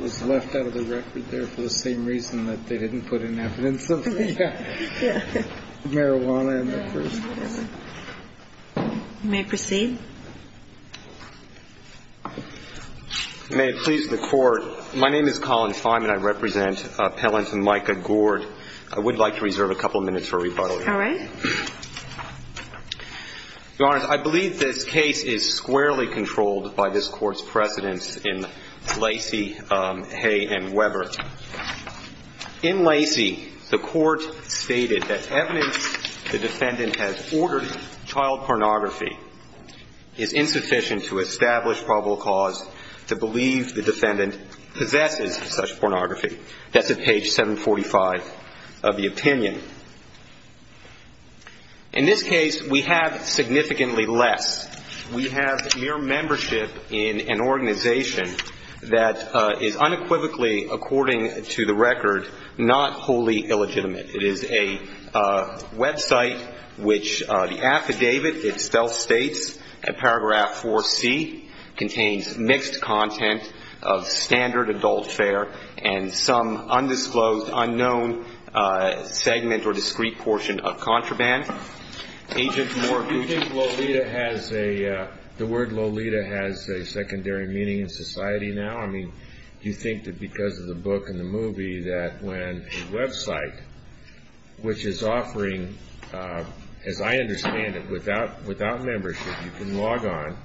is left out of the record there for the same reason that they didn't put in evidence of marijuana in the first place. You may proceed. May it please the court, my name is Colin Feinman, I represent Pellant and Micah Gourde. I would like to reserve a couple of minutes for rebuttal. All right. Your Honor, I believe this case is squarely controlled by this court's precedence in Lacey, Hay, and Weber. In Lacey, the court stated that evidence the defendant has ordered child pornography is insufficient to establish probable cause to believe the defendant possesses such pornography. That's at page 745 of the opinion. In this case, we have significantly less. We have mere membership in an organization that is unequivocally, according to the record, not wholly illegitimate. It is a website which the affidavit itself states in paragraph 4C contains mixed content of standard adult fare and some undisclosed, unknown segment or discrete portion of contraband. Agent Moore, do you think Lolita has a, the word Lolita has a secondary meaning in society now? I mean, do you think that because of the book and the movie that when a website which is offering, as I understand it, without membership, you can log on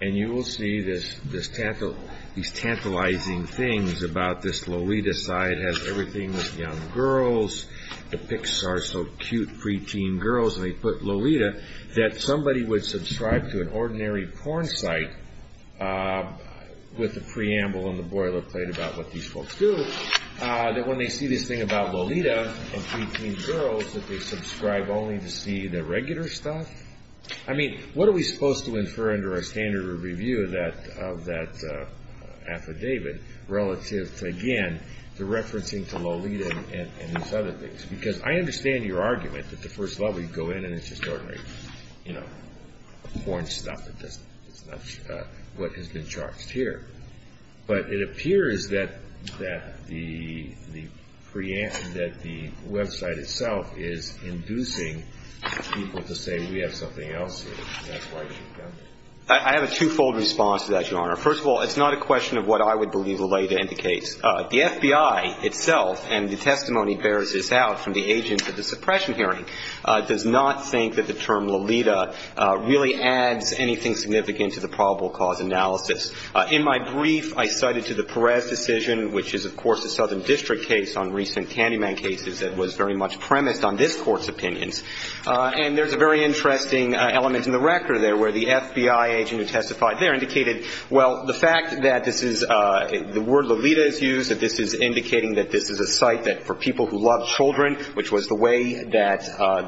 and you will see this tantalizing things about this Lolita site has everything with young girls, the Pixar so cute preteen girls, and they put Lolita, that somebody would subscribe to an ordinary porn site with a preamble on the boilerplate about what these folks do, that when they see this thing about Lolita and preteen girls that they subscribe only to see the regular stuff? I mean, what are we supposed to infer under a standard review of that affidavit relative, again, to referencing to Lolita and these other things? I have a twofold response to that, Your Honor. First of all, it's not a question of what I would believe Lolita indicates. The FBI itself, and the testimony bears this out from the agents at the suppression hearing, does not think that the term Lolita really adds anything significant to the probable cause analysis. In my brief, I cited to the Perez decision, which is, of course, a southern district case on recent Candyman cases that was very much premised on this Court's opinions. And there's a very interesting element in the record there where the FBI agent who testified there indicated, well, the fact that this is the word Lolita is used, that this is indicating that this is a site that for people who love children, which was the way that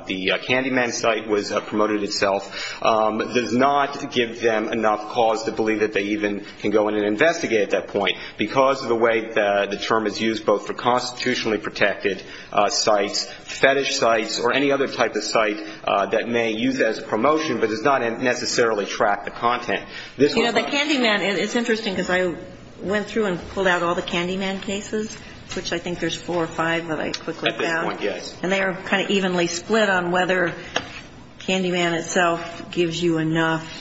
the Candyman site was promoted itself, does not give them enough cause to believe that they even can go in and investigate at that point, because of the way the term is used both for constitutionally protected sites, fetish sites, or any other type of site that may use it as a promotion, but does not necessarily track the content. You know, the Candyman, it's interesting because I went through and pulled out all the Candyman cases, which I think there's four or five that I quickly found. At this point, yes. And they are kind of evenly split on whether Candyman itself gives you enough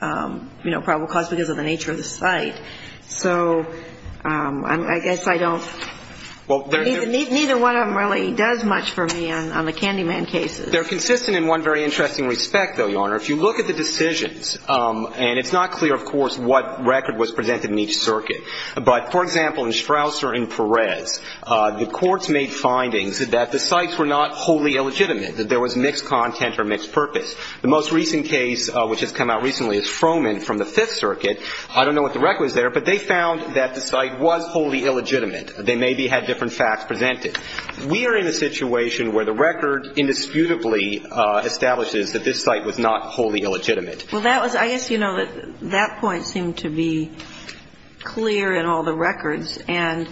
probable cause because of the nature of the site. So I guess I don't – neither one of them really does much for me on the Candyman cases. They're consistent in one very interesting respect, though, Your Honor. If you look at the decisions, and it's not clear, of course, what record was presented in each circuit. But, for example, in Strouser and Perez, the courts made findings that the sites were not wholly illegitimate, that there was mixed content or mixed purpose. The most recent case, which has come out recently, is Froman from the Fifth Circuit. I don't know what the record is there, but they found that the site was wholly illegitimate. They maybe had different facts presented. We are in a situation where the record indisputably establishes that this site was not wholly illegitimate. Well, that was – I guess you know that that point seemed to be clear in all the records. And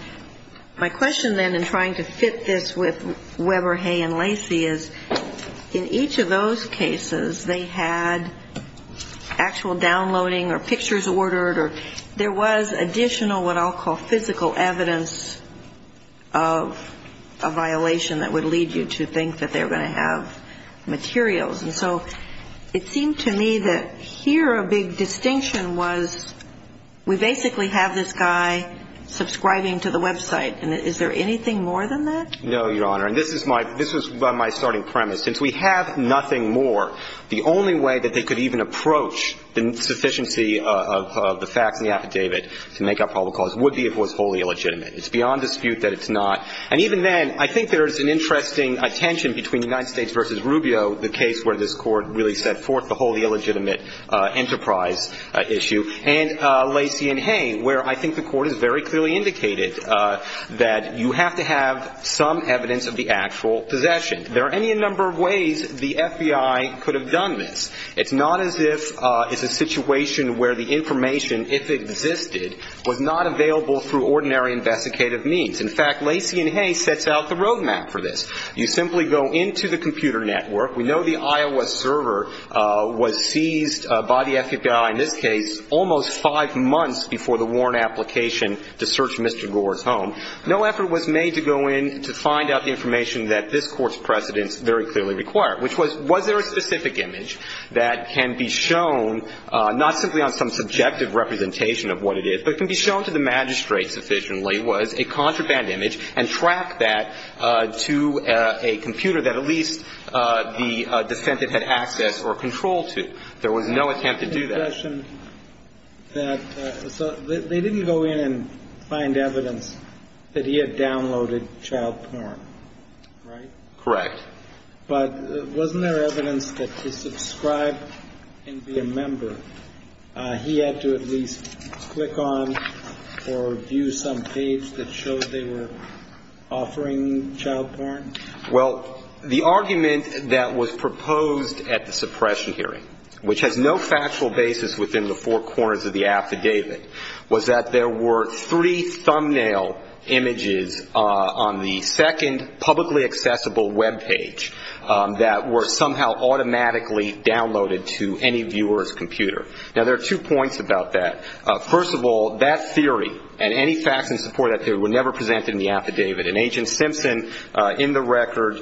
my question then in trying to fit this with Weber, Hay, and Lacey is, in each of those cases, they had actual downloading or pictures ordered or there was additional what I'll call physical evidence of a violation that would lead you to think that they were going to have materials. And so it seemed to me that here a big distinction was we basically have this guy subscribing to the website. And is there anything more than that? No, Your Honor. And this is my – this was my starting premise. Since we have nothing more, the only way that they could even approach the sufficiency of the facts in the affidavit to make up probable cause would be if it was wholly illegitimate. It's beyond dispute that it's not. And even then, I think there is an interesting tension between United States v. Rubio, the case where this Court really set forth the wholly illegitimate enterprise issue, and Lacey and Hay, where I think the Court has very clearly indicated that you have to have some evidence of the actual possession. There are any number of ways the FBI could have done this. It's not as if – it's a situation where the information, if it existed, was not available through ordinary investigative means. In fact, Lacey and Hay sets out the roadmap for this. You simply go into the computer network. We know the I.O.S. server was seized by the FBI, in this case, almost five months before the warrant application to search Mr. Gore's home. No effort was made to go in to find out the information that this Court's precedents very clearly require, which was, was there a specific image that can be shown, not simply on some subjective representation of what it is, but can be shown to the magistrate sufficiently, was a contraband image, and track that to a computer that at least the defendant had access or control to. There was no attempt to do that. So they didn't go in and find evidence that he had downloaded child porn, right? Correct. But wasn't there evidence that to subscribe and be a member, he had to at least click on or view some page that showed they were offering child porn? Well, the argument that was proposed at the suppression hearing, which has no factual basis within the four corners of the affidavit, was that there were three thumbnail images on the second publicly accessible web page that were somehow automatically downloaded to any viewer's computer. Now, there are two points about that. First of all, that theory and any facts in support of that theory were never presented in the affidavit. And Agent Simpson, in the record,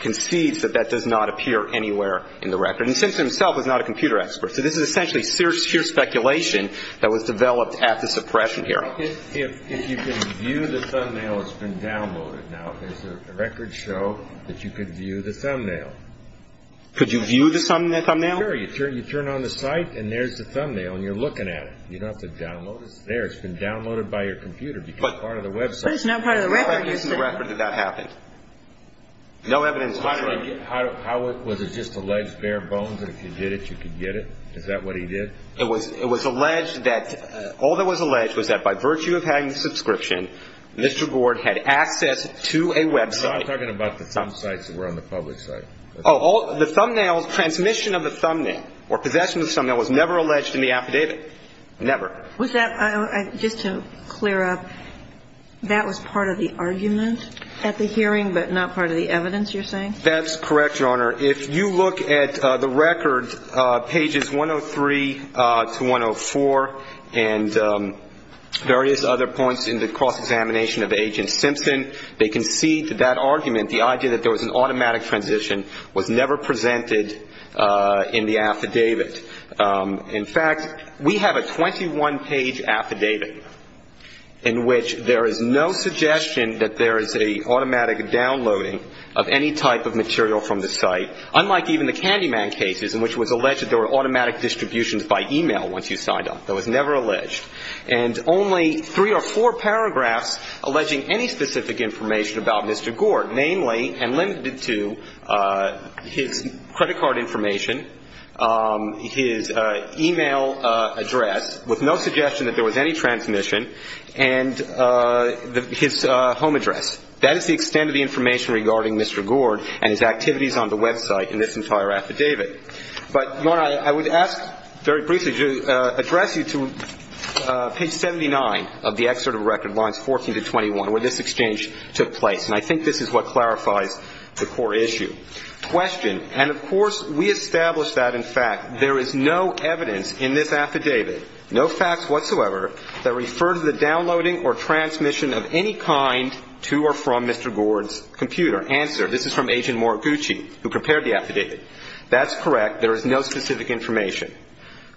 concedes that that does not appear anywhere in the record. And Simpson himself was not a computer expert. So this is essentially sheer speculation that was developed at the suppression hearing. If you can view the thumbnail, it's been downloaded. Now, does the record show that you can view the thumbnail? Could you view the thumbnail? Sure. You turn on the site, and there's the thumbnail, and you're looking at it. You don't have to download it. It's there. It's been downloaded by your computer. It's part of the website. But it's not part of the record. How, in the record, did that happen? No evidence. How was it just alleged bare bones that if you did it, you could get it? Is that what he did? It was alleged that all that was alleged was that by virtue of having the subscription, Mr. Gord had access to a website. No, I'm talking about the thumb sites that were on the public site. Oh, the thumbnails, transmission of the thumbnail or possession of the thumbnail was never alleged in the affidavit. Never. Was that, just to clear up, that was part of the argument at the hearing but not part of the evidence you're saying? That's correct, Your Honor. If you look at the record, pages 103 to 104 and various other points in the cross-examination of Agent Simpson, they concede that that argument, the idea that there was an automatic transition, was never presented in the affidavit. In fact, we have a 21-page affidavit in which there is no suggestion that there is an automatic downloading of any type of material from the site, unlike even the Candyman cases in which it was alleged that there were automatic distributions by e-mail once you signed up. That was never alleged. And only three or four paragraphs alleging any specific information about Mr. Gord, namely, and limited to, his credit card information, his e-mail address, with no suggestion that there was any transmission, and his home address. That is the extent of the information regarding Mr. Gord and his activities on the website in this entire affidavit. But, Your Honor, I would ask very briefly to address you to page 79 of the excerpt of the record, lines 14 to 21, where this exchange took place. And I think this is what clarifies the core issue. Question. And, of course, we established that, in fact, there is no evidence in this affidavit, no facts whatsoever, that refer to the downloading or transmission of any kind to or from Mr. Gord's computer. Answer. This is from Agent Moriguchi, who prepared the affidavit. That's correct. There is no specific information.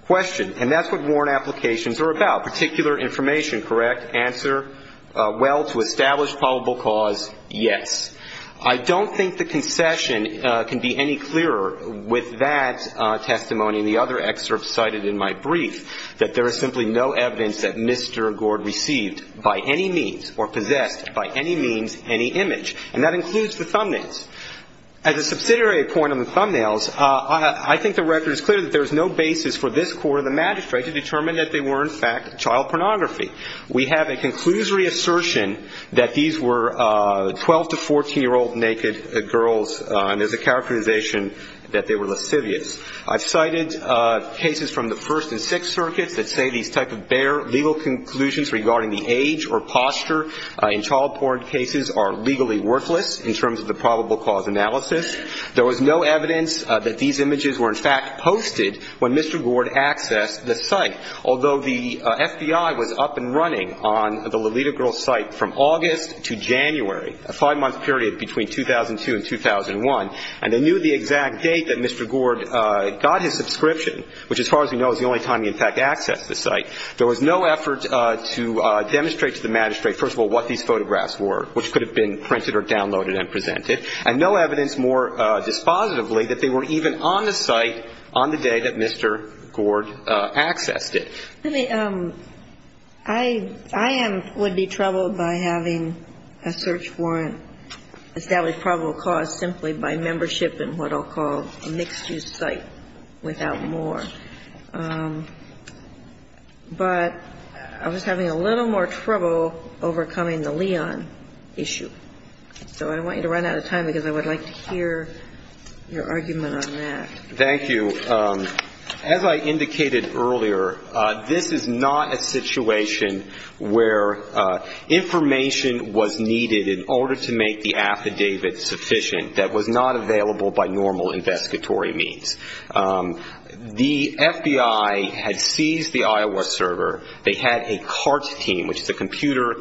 Question. And that's what warrant applications are about, particular information, correct? Answer. Well, to establish probable cause, yes. I don't think the concession can be any clearer with that testimony and the other excerpts cited in my brief, that there is simply no evidence that Mr. Gord received by any means or possessed by any means any image. And that includes the thumbnails. As a subsidiary point on the thumbnails, I think the record is clear that there is no basis for this court or the magistrate to determine that they were, in fact, child pornography. We have a conclusory assertion that these were 12- to 14-year-old naked girls, and there's a characterization that they were lascivious. I've cited cases from the First and Sixth Circuits that say these type of bare legal conclusions regarding the age or posture in child pornography cases are legally worthless in terms of the probable cause analysis. There was no evidence that these images were, in fact, posted when Mr. Gord accessed the site, although the FBI was up and running on the Lolita Girls site from August to January, a five-month period between 2002 and 2001. And they knew the exact date that Mr. Gord got his subscription, which, as far as we know, is the only time he, in fact, accessed the site. There was no effort to demonstrate to the magistrate, first of all, what these photographs were, which could have been printed or downloaded and presented, and no evidence more dispositively that they were even on the site on the day that Mr. Gord accessed it. Let me – I am – would be troubled by having a search warrant established for probable cause simply by membership in what I'll call a mixed-use site without more. But I was having a little more trouble overcoming the Leon issue. So I want you to run out of time because I would like to hear your argument on that. Thank you. As I indicated earlier, this is not a situation where information was needed in order to make the affidavit sufficient that was not available by normal investigatory means. The FBI had seized the Iowa server. They had a CART team, which is a computer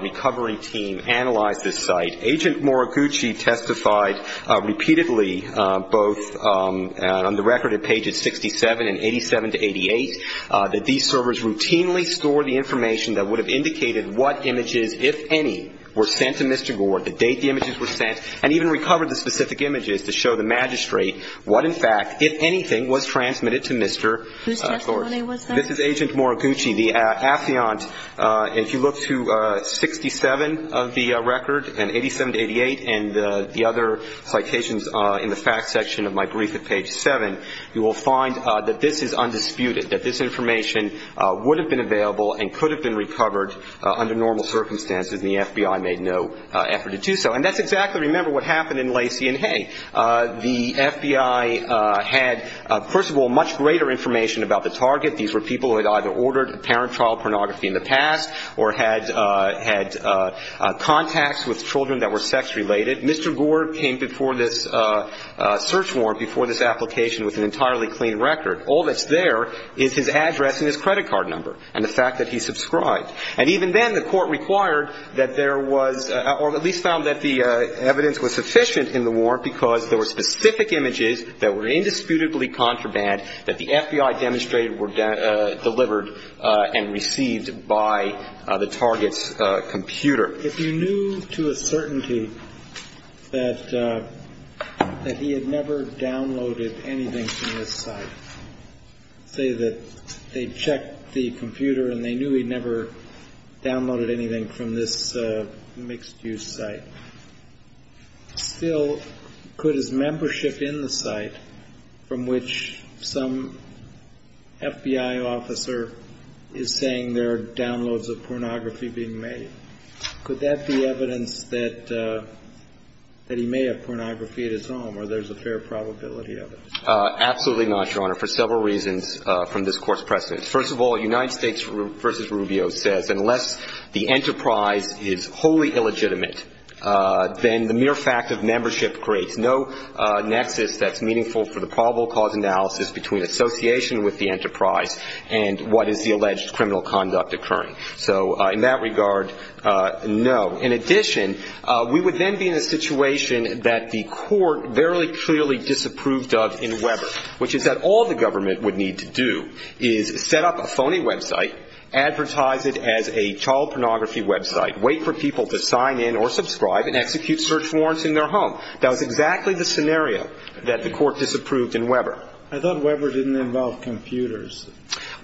recovery team, analyze this site. Agent Moriguchi testified repeatedly, both on the record at pages 67 and 87 to 88, that these servers routinely stored the information that would have indicated what images, if any, were sent to Mr. Gord, the date the images were sent, and even recovered the specific images to show the magistrate what, in fact, if anything, was transmitted to Mr. Gord. Whose testimony was that? This is Agent Moriguchi, the affiant. If you look to 67 of the record and 87 to 88 and the other citations in the facts section of my brief at page 7, you will find that this is undisputed, that this information would have been available and could have been recovered under normal circumstances, and the FBI made no effort to do so. And that's exactly, remember, what happened in Lacey. And, hey, the FBI had, first of all, much greater information about the target. These were people who had either ordered apparent trial pornography in the past or had contacts with children that were sex-related. Mr. Gord came before this search warrant, before this application, with an entirely clean record. All that's there is his address and his credit card number and the fact that he subscribed. And even then the court required that there was, or at least found that the evidence was sufficient in the warrant because there were specific images that were indisputably contraband, that the FBI demonstrated were delivered and received by the target's computer. If you knew to a certainty that he had never downloaded anything from this site, say that they checked the computer and they knew he'd never downloaded anything from this mixed-use site, still could his membership in the site, from which some FBI officer is saying there are downloads of pornography being made, could that be evidence that he may have pornography at his home or there's a fair probability of it? Absolutely not, Your Honor, for several reasons from this court's precedent. First of all, United States v. Rubio says unless the enterprise is wholly illegitimate, then the mere fact of membership creates no nexus that's meaningful for the probable cause analysis between association with the enterprise and what is the alleged criminal conduct occurring. So in that regard, no. In addition, we would then be in a situation that the court very clearly disapproved of in Weber, which is that all the government would need to do is set up a phony website, advertise it as a child pornography website, wait for people to sign in or subscribe, and execute search warrants in their home. That was exactly the scenario that the court disapproved in Weber. I thought Weber didn't involve computers.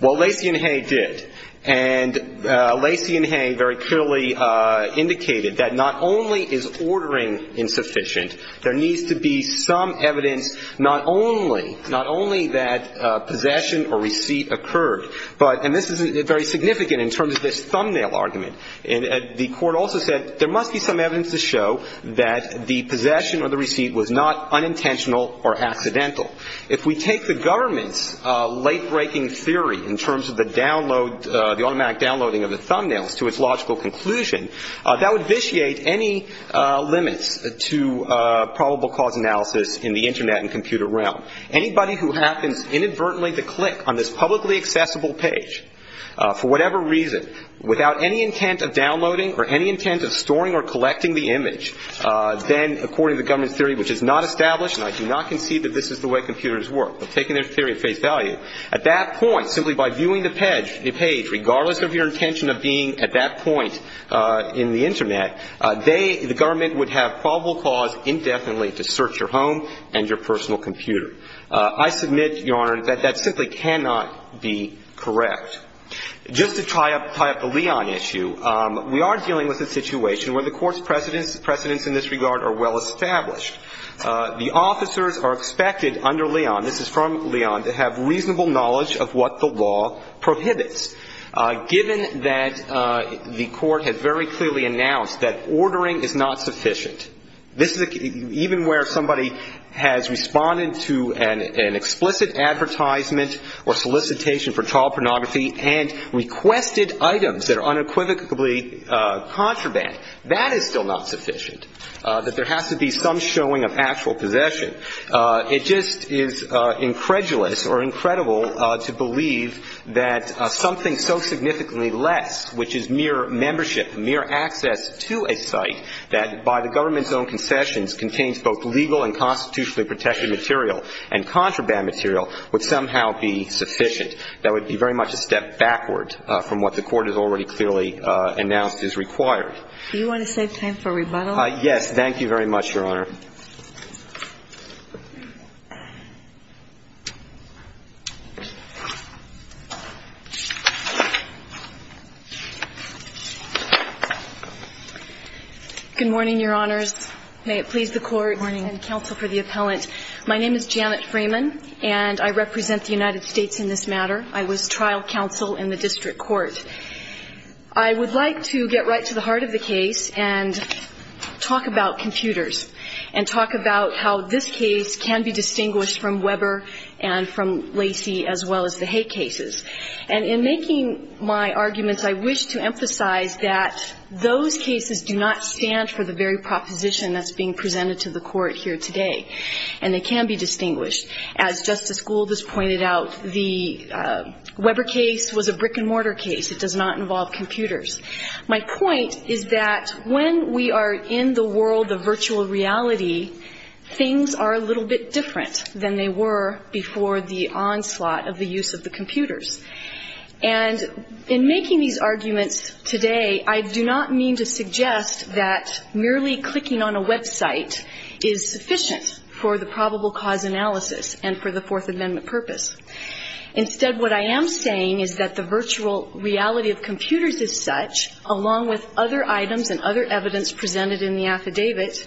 Well, Lacey and Hay did. And Lacey and Hay very clearly indicated that not only is ordering insufficient, there needs to be some evidence not only that possession or receipt occurred, and this is very significant in terms of this thumbnail argument. The court also said there must be some evidence to show that the possession or the receipt was not unintentional or accidental. If we take the government's late-breaking theory in terms of the download, the automatic downloading of the thumbnails to its logical conclusion, that would vitiate any limits to probable cause analysis in the Internet and computer realm. Anybody who happens inadvertently to click on this publicly accessible page for whatever reason, without any intent of downloading or any intent of storing or collecting the image, then according to the government's theory, which is not established, I do not concede that this is the way computers work. But taking their theory at face value, at that point, simply by viewing the page, regardless of your intention of being at that point in the Internet, the government would have probable cause indefinitely to search your home and your personal computer. I submit, Your Honor, that that simply cannot be correct. Just to tie up the Leon issue, we are dealing with a situation where the court's precedents in this regard are well established. The officers are expected under Leon, this is from Leon, to have reasonable knowledge of what the law prohibits, given that the court has very clearly announced that ordering is not sufficient. This is even where somebody has responded to an explicit advertisement or solicitation for child pornography and requested items that are unequivocally contraband. That is still not sufficient. That there has to be some showing of actual possession. It just is incredulous or incredible to believe that something so significantly less, which is mere membership, mere access to a site, that by the government's own concessions contains both legal and constitutionally protected material and contraband material, would somehow be sufficient. That would be very much a step backward from what the court has already clearly announced is required. Do you want to save time for rebuttal? Yes. Thank you very much, Your Honor. Good morning, Your Honors. May it please the Court and counsel for the appellant. My name is Janet Freeman, and I represent the United States in this matter. I was trial counsel in the district court. I would like to get right to the heart of the case and talk about computers and talk about how this case can be distinguished from Weber and from Lacey as well as the Hay cases. And in making my arguments, I wish to emphasize that those cases do not stand for the very proposition that's being presented to the court here today, and they can be distinguished. As Justice Gould has pointed out, the Weber case was a brick-and-mortar case. It does not involve computers. My point is that when we are in the world of virtual reality, things are a little bit different than they were before the onslaught of the use of the computers. And in making these arguments today, I do not mean to suggest that merely clicking on a website is sufficient for the probable cause analysis and for the Fourth Amendment purpose. Instead, what I am saying is that the virtual reality of computers is such, along with other items and other evidence presented in the affidavit,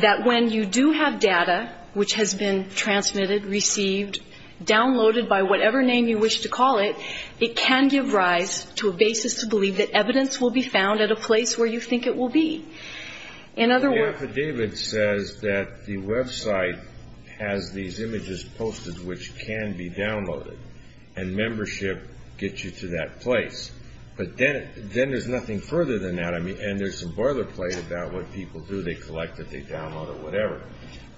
that when you do have data which has been transmitted, received, downloaded by whatever name you wish to call it, it can give rise to a basis to believe that evidence will be found at a place where you think it will be. In other words ---- which can be downloaded, and membership gets you to that place. But then there's nothing further than that, and there's some boilerplate about what people do. They collect it, they download it, whatever.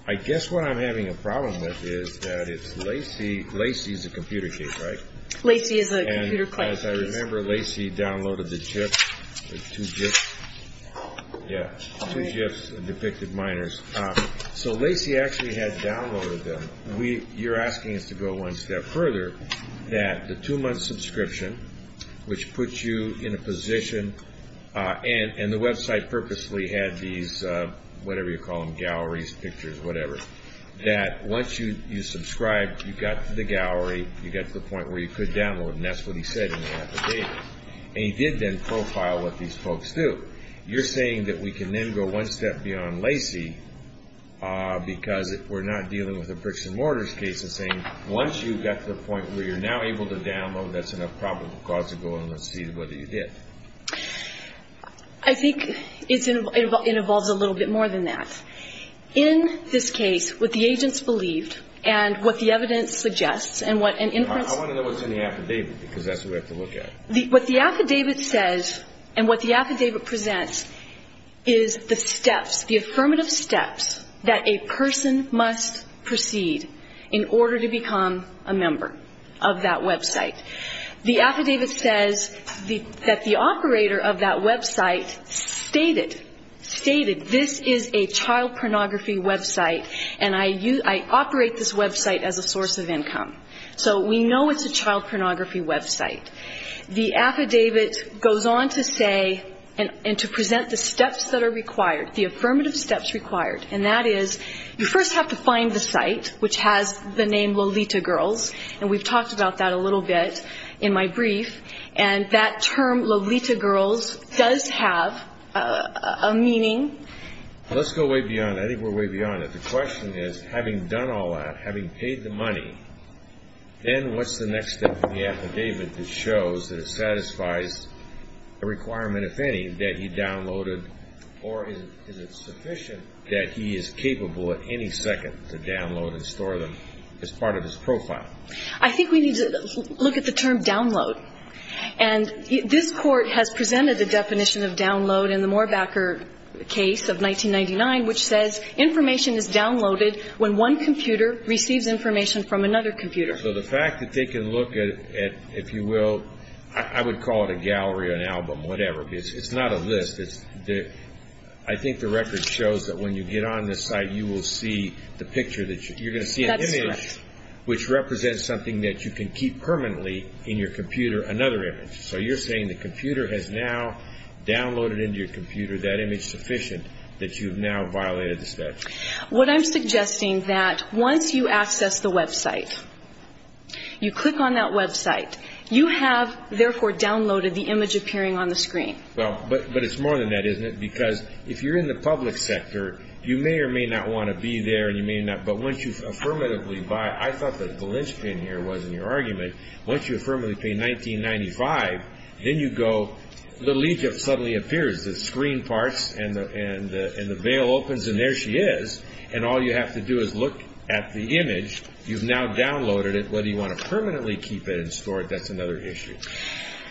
I guess what I'm having a problem with is that it's Lacy. Lacy is a computer case, right? Lacy is a computer case. And as I remember, Lacy downloaded the chips, the two chips, the depicted miners. So Lacy actually had downloaded them. You're asking us to go one step further, that the two-month subscription, which puts you in a position, and the website purposely had these whatever you call them, galleries, pictures, whatever, that once you subscribe, you got to the gallery, you got to the point where you could download, and that's what he said in the affidavit. And he did then profile what these folks do. But you're saying that we can then go one step beyond Lacy because we're not dealing with a bricks-and-mortars case and saying once you've got to the point where you're now able to download, that's enough probable cause to go in and see whether you did. I think it involves a little bit more than that. In this case, what the agents believed and what the evidence suggests and what an inference I want to know what's in the affidavit because that's what we have to look at. What the affidavit says and what the affidavit presents is the steps, the affirmative steps that a person must proceed in order to become a member of that website. The affidavit says that the operator of that website stated, stated this is a child pornography website and I operate this website as a source of income. So we know it's a child pornography website. The affidavit goes on to say and to present the steps that are required, the affirmative steps required. And that is you first have to find the site which has the name Lolita Girls and we've talked about that a little bit in my brief. And that term, Lolita Girls, does have a meaning. Let's go way beyond. I think we're way beyond it. The question is having done all that, having paid the money, then what's the next step in the affidavit that shows that it satisfies a requirement, if any, that he downloaded or is it sufficient that he is capable at any second to download and store them as part of his profile? I think we need to look at the term download. And this Court has presented the definition of download in the Moorbacker case of 1999 which says information is downloaded when one computer receives information from another computer. So the fact that they can look at, if you will, I would call it a gallery or an album, whatever. It's not a list. I think the record shows that when you get on this site, you will see the picture that you're going to see. That's correct. An image which represents something that you can keep permanently in your computer, another image. So you're saying the computer has now downloaded into your computer that image sufficient that you have now violated the statute? What I'm suggesting is that once you access the website, you click on that website, you have therefore downloaded the image appearing on the screen. Well, but it's more than that, isn't it? Because if you're in the public sector, you may or may not want to be there, but once you affirmatively buy it, I thought that the linchpin here was in your argument, once you affirmatively pay $19.95, then you go, So the linchpin suddenly appears, the screen parts, and the veil opens, and there she is. And all you have to do is look at the image. You've now downloaded it. Whether you want to permanently keep it and store it, that's another issue.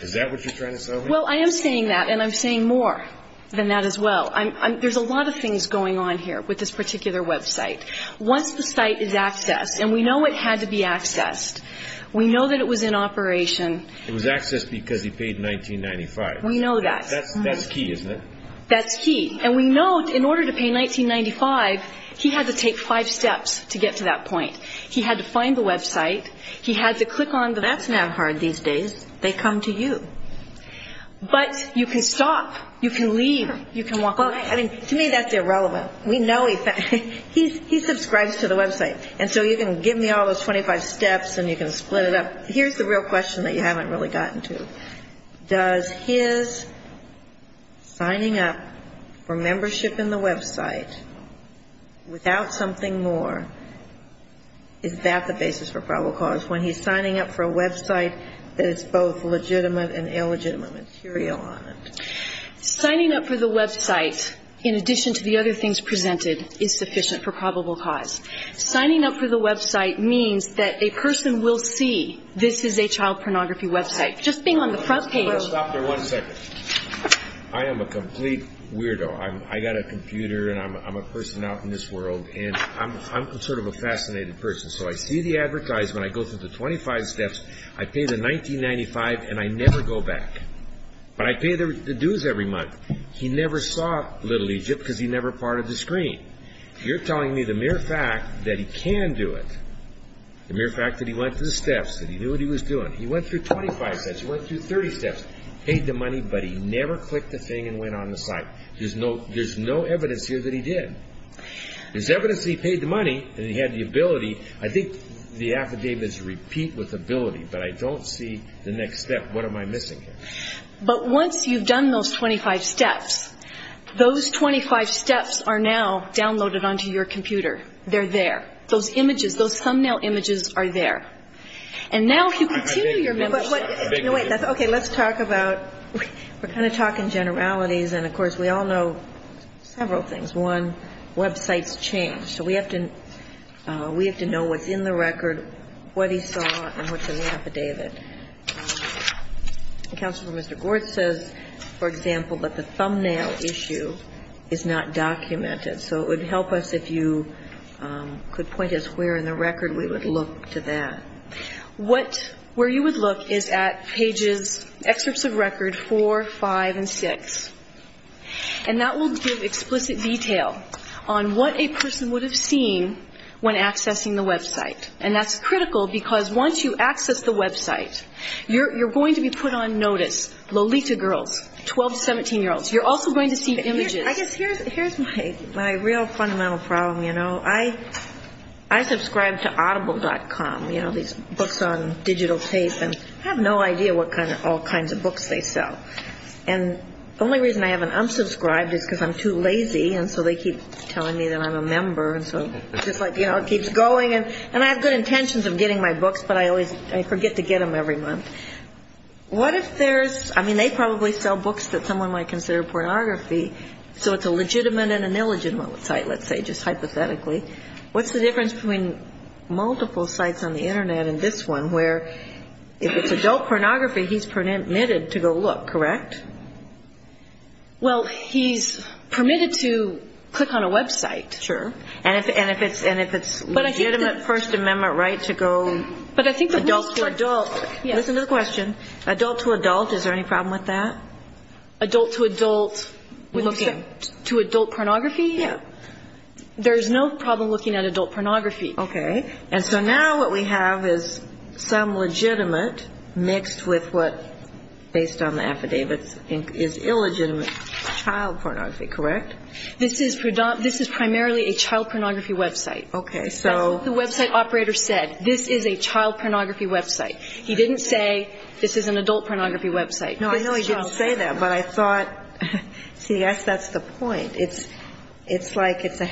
Is that what you're trying to say? Well, I am saying that, and I'm saying more than that as well. There's a lot of things going on here with this particular website. Once the site is accessed, and we know it had to be accessed, we know that it was in operation. It was accessed because he paid $19.95. We know that. That's key, isn't it? That's key. And we know in order to pay $19.95, he had to take five steps to get to that point. He had to find the website, he had to click on the That's not hard these days. They come to you. But you can stop, you can leave, you can walk away. To me that's irrelevant. We know he subscribes to the website, and so you can give me all those 25 steps and you can split it up. But here's the real question that you haven't really gotten to. Does his signing up for membership in the website without something more, is that the basis for probable cause, when he's signing up for a website that is both legitimate and illegitimate material on it? Signing up for the website, in addition to the other things presented, is sufficient for probable cause. Signing up for the website means that a person will see this is a child pornography website. Just being on the front page Stop there one second. I am a complete weirdo. I've got a computer and I'm a person out in this world and I'm sort of a fascinated person. So I see the advertisement, I go through the 25 steps, I pay the $19.95 and I never go back. But I pay the dues every month. He never saw Little Egypt because he never parted the screen. You're telling me the mere fact that he can do it, the mere fact that he went through the steps, that he knew what he was doing. He went through 25 steps, he went through 30 steps, paid the money, but he never clicked the thing and went on the site. There's no evidence here that he did. There's evidence that he paid the money and he had the ability. I think the affidavit is a repeat with ability, but I don't see the next step. What am I missing here? But once you've done those 25 steps, those 25 steps are now downloaded onto your computer. They're there. Those images, those thumbnail images are there. And now if you continue your memory. Okay, let's talk about, we're kind of talking generalities and, of course, we all know several things. One, websites change. So we have to know what's in the record, what he saw and what's in the affidavit. Counsel for Mr. Gortz says, for example, that the thumbnail issue is not documented. So it would help us if you could point us where in the record we would look to that. What, where you would look is at pages, excerpts of record 4, 5, and 6. And that will give explicit detail on what a person would have seen when accessing the website. And that's critical because once you access the website, you're going to be put on notice. Lolita girls, 12 to 17-year-olds, you're also going to see images. I guess here's my real fundamental problem, you know. I subscribe to audible.com, you know, these books on digital tape. And I have no idea what kind of all kinds of books they sell. And the only reason I haven't unsubscribed is because I'm too lazy. And so they keep telling me that I'm a member. And so it's just like, you know, it keeps going. And I have good intentions of getting my books, but I always forget to get them every month. What if there's, I mean, they probably sell books that someone might consider pornography. So it's a legitimate and an illegitimate site, let's say, just hypothetically. What's the difference between multiple sites on the Internet and this one, where if it's adult pornography, he's permitted to go look, correct? Well, he's permitted to click on a website. Sure. And if it's legitimate First Amendment right to go adult to adult. Listen to the question. Adult to adult, is there any problem with that? Adult to adult, to adult pornography? Yeah. There's no problem looking at adult pornography. Okay. And so now what we have is some legitimate mixed with what, based on the affidavits, is illegitimate child pornography, correct? This is primarily a child pornography website. Okay. That's what the website operator said. This is a child pornography website. He didn't say this is an adult pornography website. No, I know he didn't say that, but I thought, see, that's the point. It's like it's a,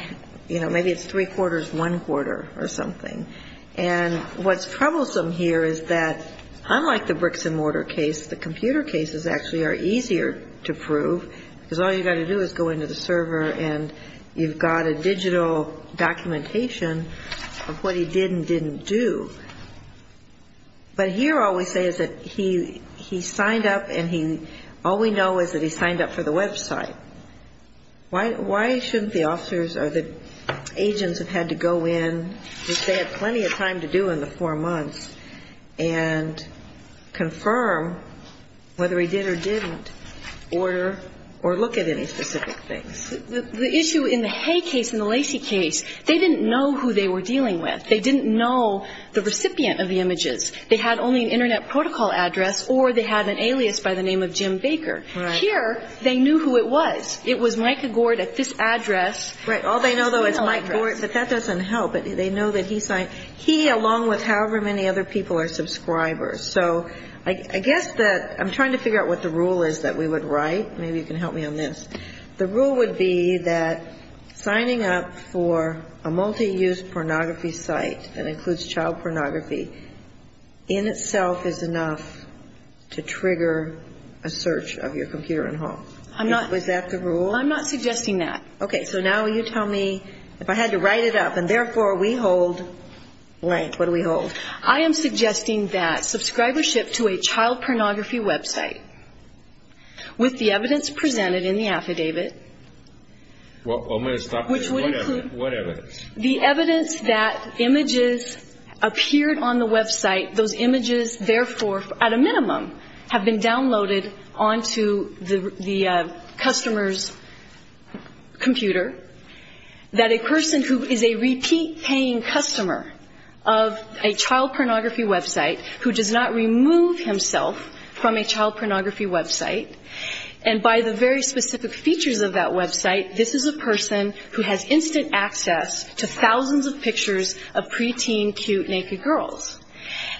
you know, maybe it's three quarters, one quarter or something. And what's troublesome here is that unlike the bricks and mortar case, the computer cases actually are easier to prove because all you've got to do is go into the server and you've got a digital documentation of what he did and didn't do. But here all we say is that he signed up and all we know is that he signed up for the website. Why shouldn't the officers or the agents have had to go in, which they had plenty of time to do in the four months, and confirm whether he did or didn't order or look at any specific things? The issue in the Hay case and the Lacey case, they didn't know who they were dealing with. They didn't know the recipient of the images. They had only an Internet protocol address or they had an alias by the name of Jim Baker. Right. Here they knew who it was. It was Mike Gord at this address. Right. All they know, though, is Mike Gord. But that doesn't help. They know that he signed. He, along with however many other people, are subscribers. So I guess that I'm trying to figure out what the rule is that we would write. Maybe you can help me on this. The rule would be that signing up for a multi-use pornography site that includes child pornography in itself is enough to trigger a search of your computer and home. Was that the rule? I'm not suggesting that. Okay. So now you tell me, if I had to write it up, and therefore we hold blank, what do we hold? I am suggesting that subscribership to a child pornography website with the evidence presented in the affidavit. I'm going to stop there. What evidence? The evidence that images appeared on the website, those images, at a minimum, have been downloaded onto the customer's computer, that a person who is a repeat paying customer of a child pornography website who does not remove himself from a child pornography website, and by the very specific features of that website, this is a person who has instant access to thousands of pictures of preteen cute naked girls.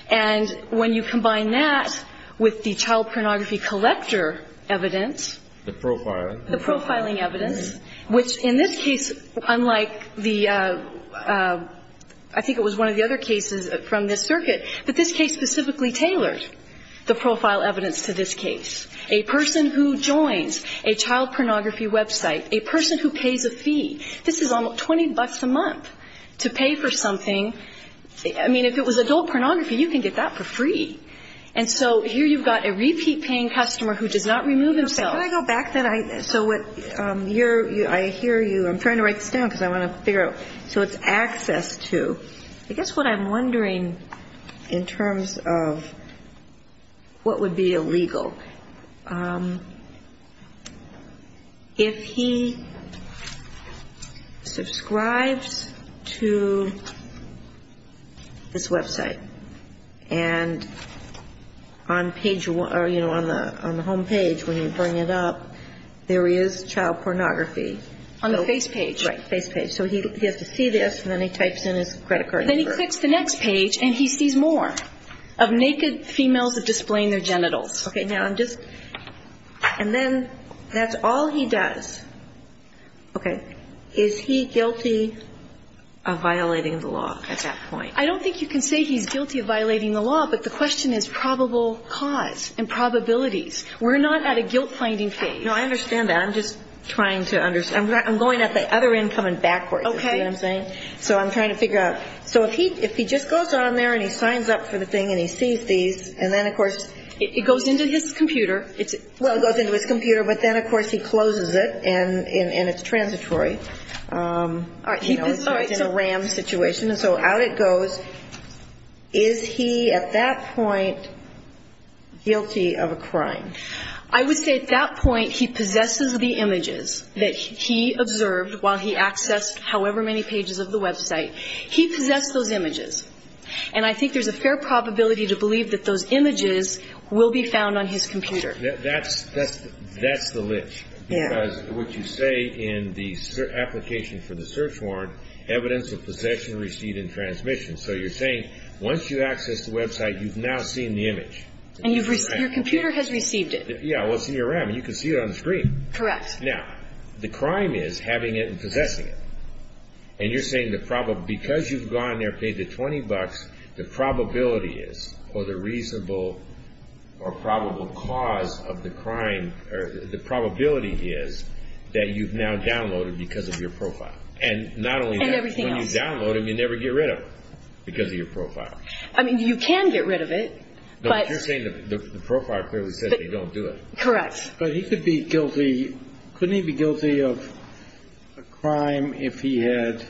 And when you combine that with the child pornography collector evidence. The profiling. The profiling evidence, which in this case, unlike the, I think it was one of the other cases from this circuit, but this case specifically tailored the profile evidence to this case. A person who joins a child pornography website, a person who pays a fee, this is almost 20 bucks a month to pay for something. I mean, if it was adult pornography, you can get that for free. And so here you've got a repeat paying customer who does not remove himself. Can I go back then? So I hear you. I'm trying to write this down because I want to figure out. So it's access to. I guess what I'm wondering in terms of what would be illegal. If he subscribes to this website and on page one or, you know, on the home page when you bring it up, there is child pornography. On the face page. Right. Face page. So he has to see this and then he types in his credit card number. Then he clicks the next page and he sees more of naked females displaying their genitals. Okay. Now I'm just. And then that's all he does. Okay. Is he guilty of violating the law at that point? I don't think you can say he's guilty of violating the law, but the question is probable cause and probabilities. We're not at a guilt finding phase. No, I understand that. I'm just trying to understand. I'm going at the other end coming backwards. Okay. You see what I'm saying? So I'm trying to figure out. So if he just goes on there and he signs up for the thing and he sees these, and then, of course. It goes into his computer. Well, it goes into his computer, but then, of course, he closes it and it's transitory. All right. He's in a ram situation. So out it goes. Is he at that point guilty of a crime? I would say at that point he possesses the images that he observed while he accessed however many pages of the website. He possessed those images. And I think there's a fair probability to believe that those images will be found on his computer. That's the list. Yeah. Because what you say in the application for the search warrant, evidence of possession, receipt, and transmission. So you're saying once you access the website, you've now seen the image. And your computer has received it. Yeah. It was in your ram, and you can see it on the screen. Correct. Now, the crime is having it and possessing it. And you're saying because you've gone there, paid the 20 bucks, the probability is, or the reasonable or probable cause of the crime, the probability is that you've now downloaded it because of your profile. And not only that. And everything else. When you download it, you never get rid of it because of your profile. I mean, you can get rid of it. But you're saying the profile clearly says they don't do it. Correct. But he could be guilty, couldn't he be guilty of a crime if he had,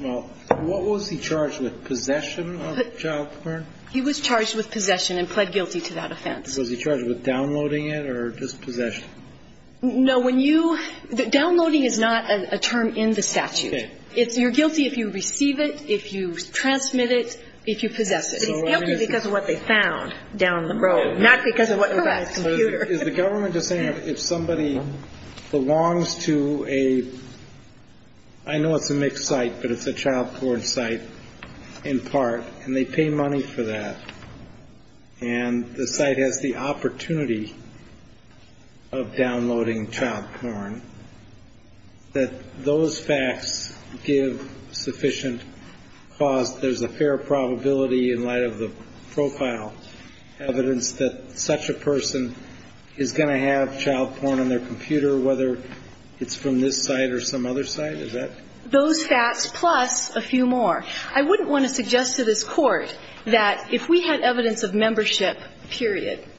well, what was he charged with? Possession of child porn? He was charged with possession and pled guilty to that offense. Was he charged with downloading it or just possession? No, when you, downloading is not a term in the statute. Okay. You're guilty if you receive it, if you transmit it, if you possess it. He's guilty because of what they found down the road, not because of what was on his computer. Is the government just saying if somebody belongs to a, I know it's a mixed site, but it's a child porn site in part, and they pay money for that, and the site has the opportunity of downloading child porn, that those facts give sufficient cause, there's a fair probability in light of the profile, evidence that such a person is going to have child porn on their computer, whether it's from this site or some other site, is that? Those facts plus a few more. I wouldn't want to suggest to this Court that if we had evidence of membership, period.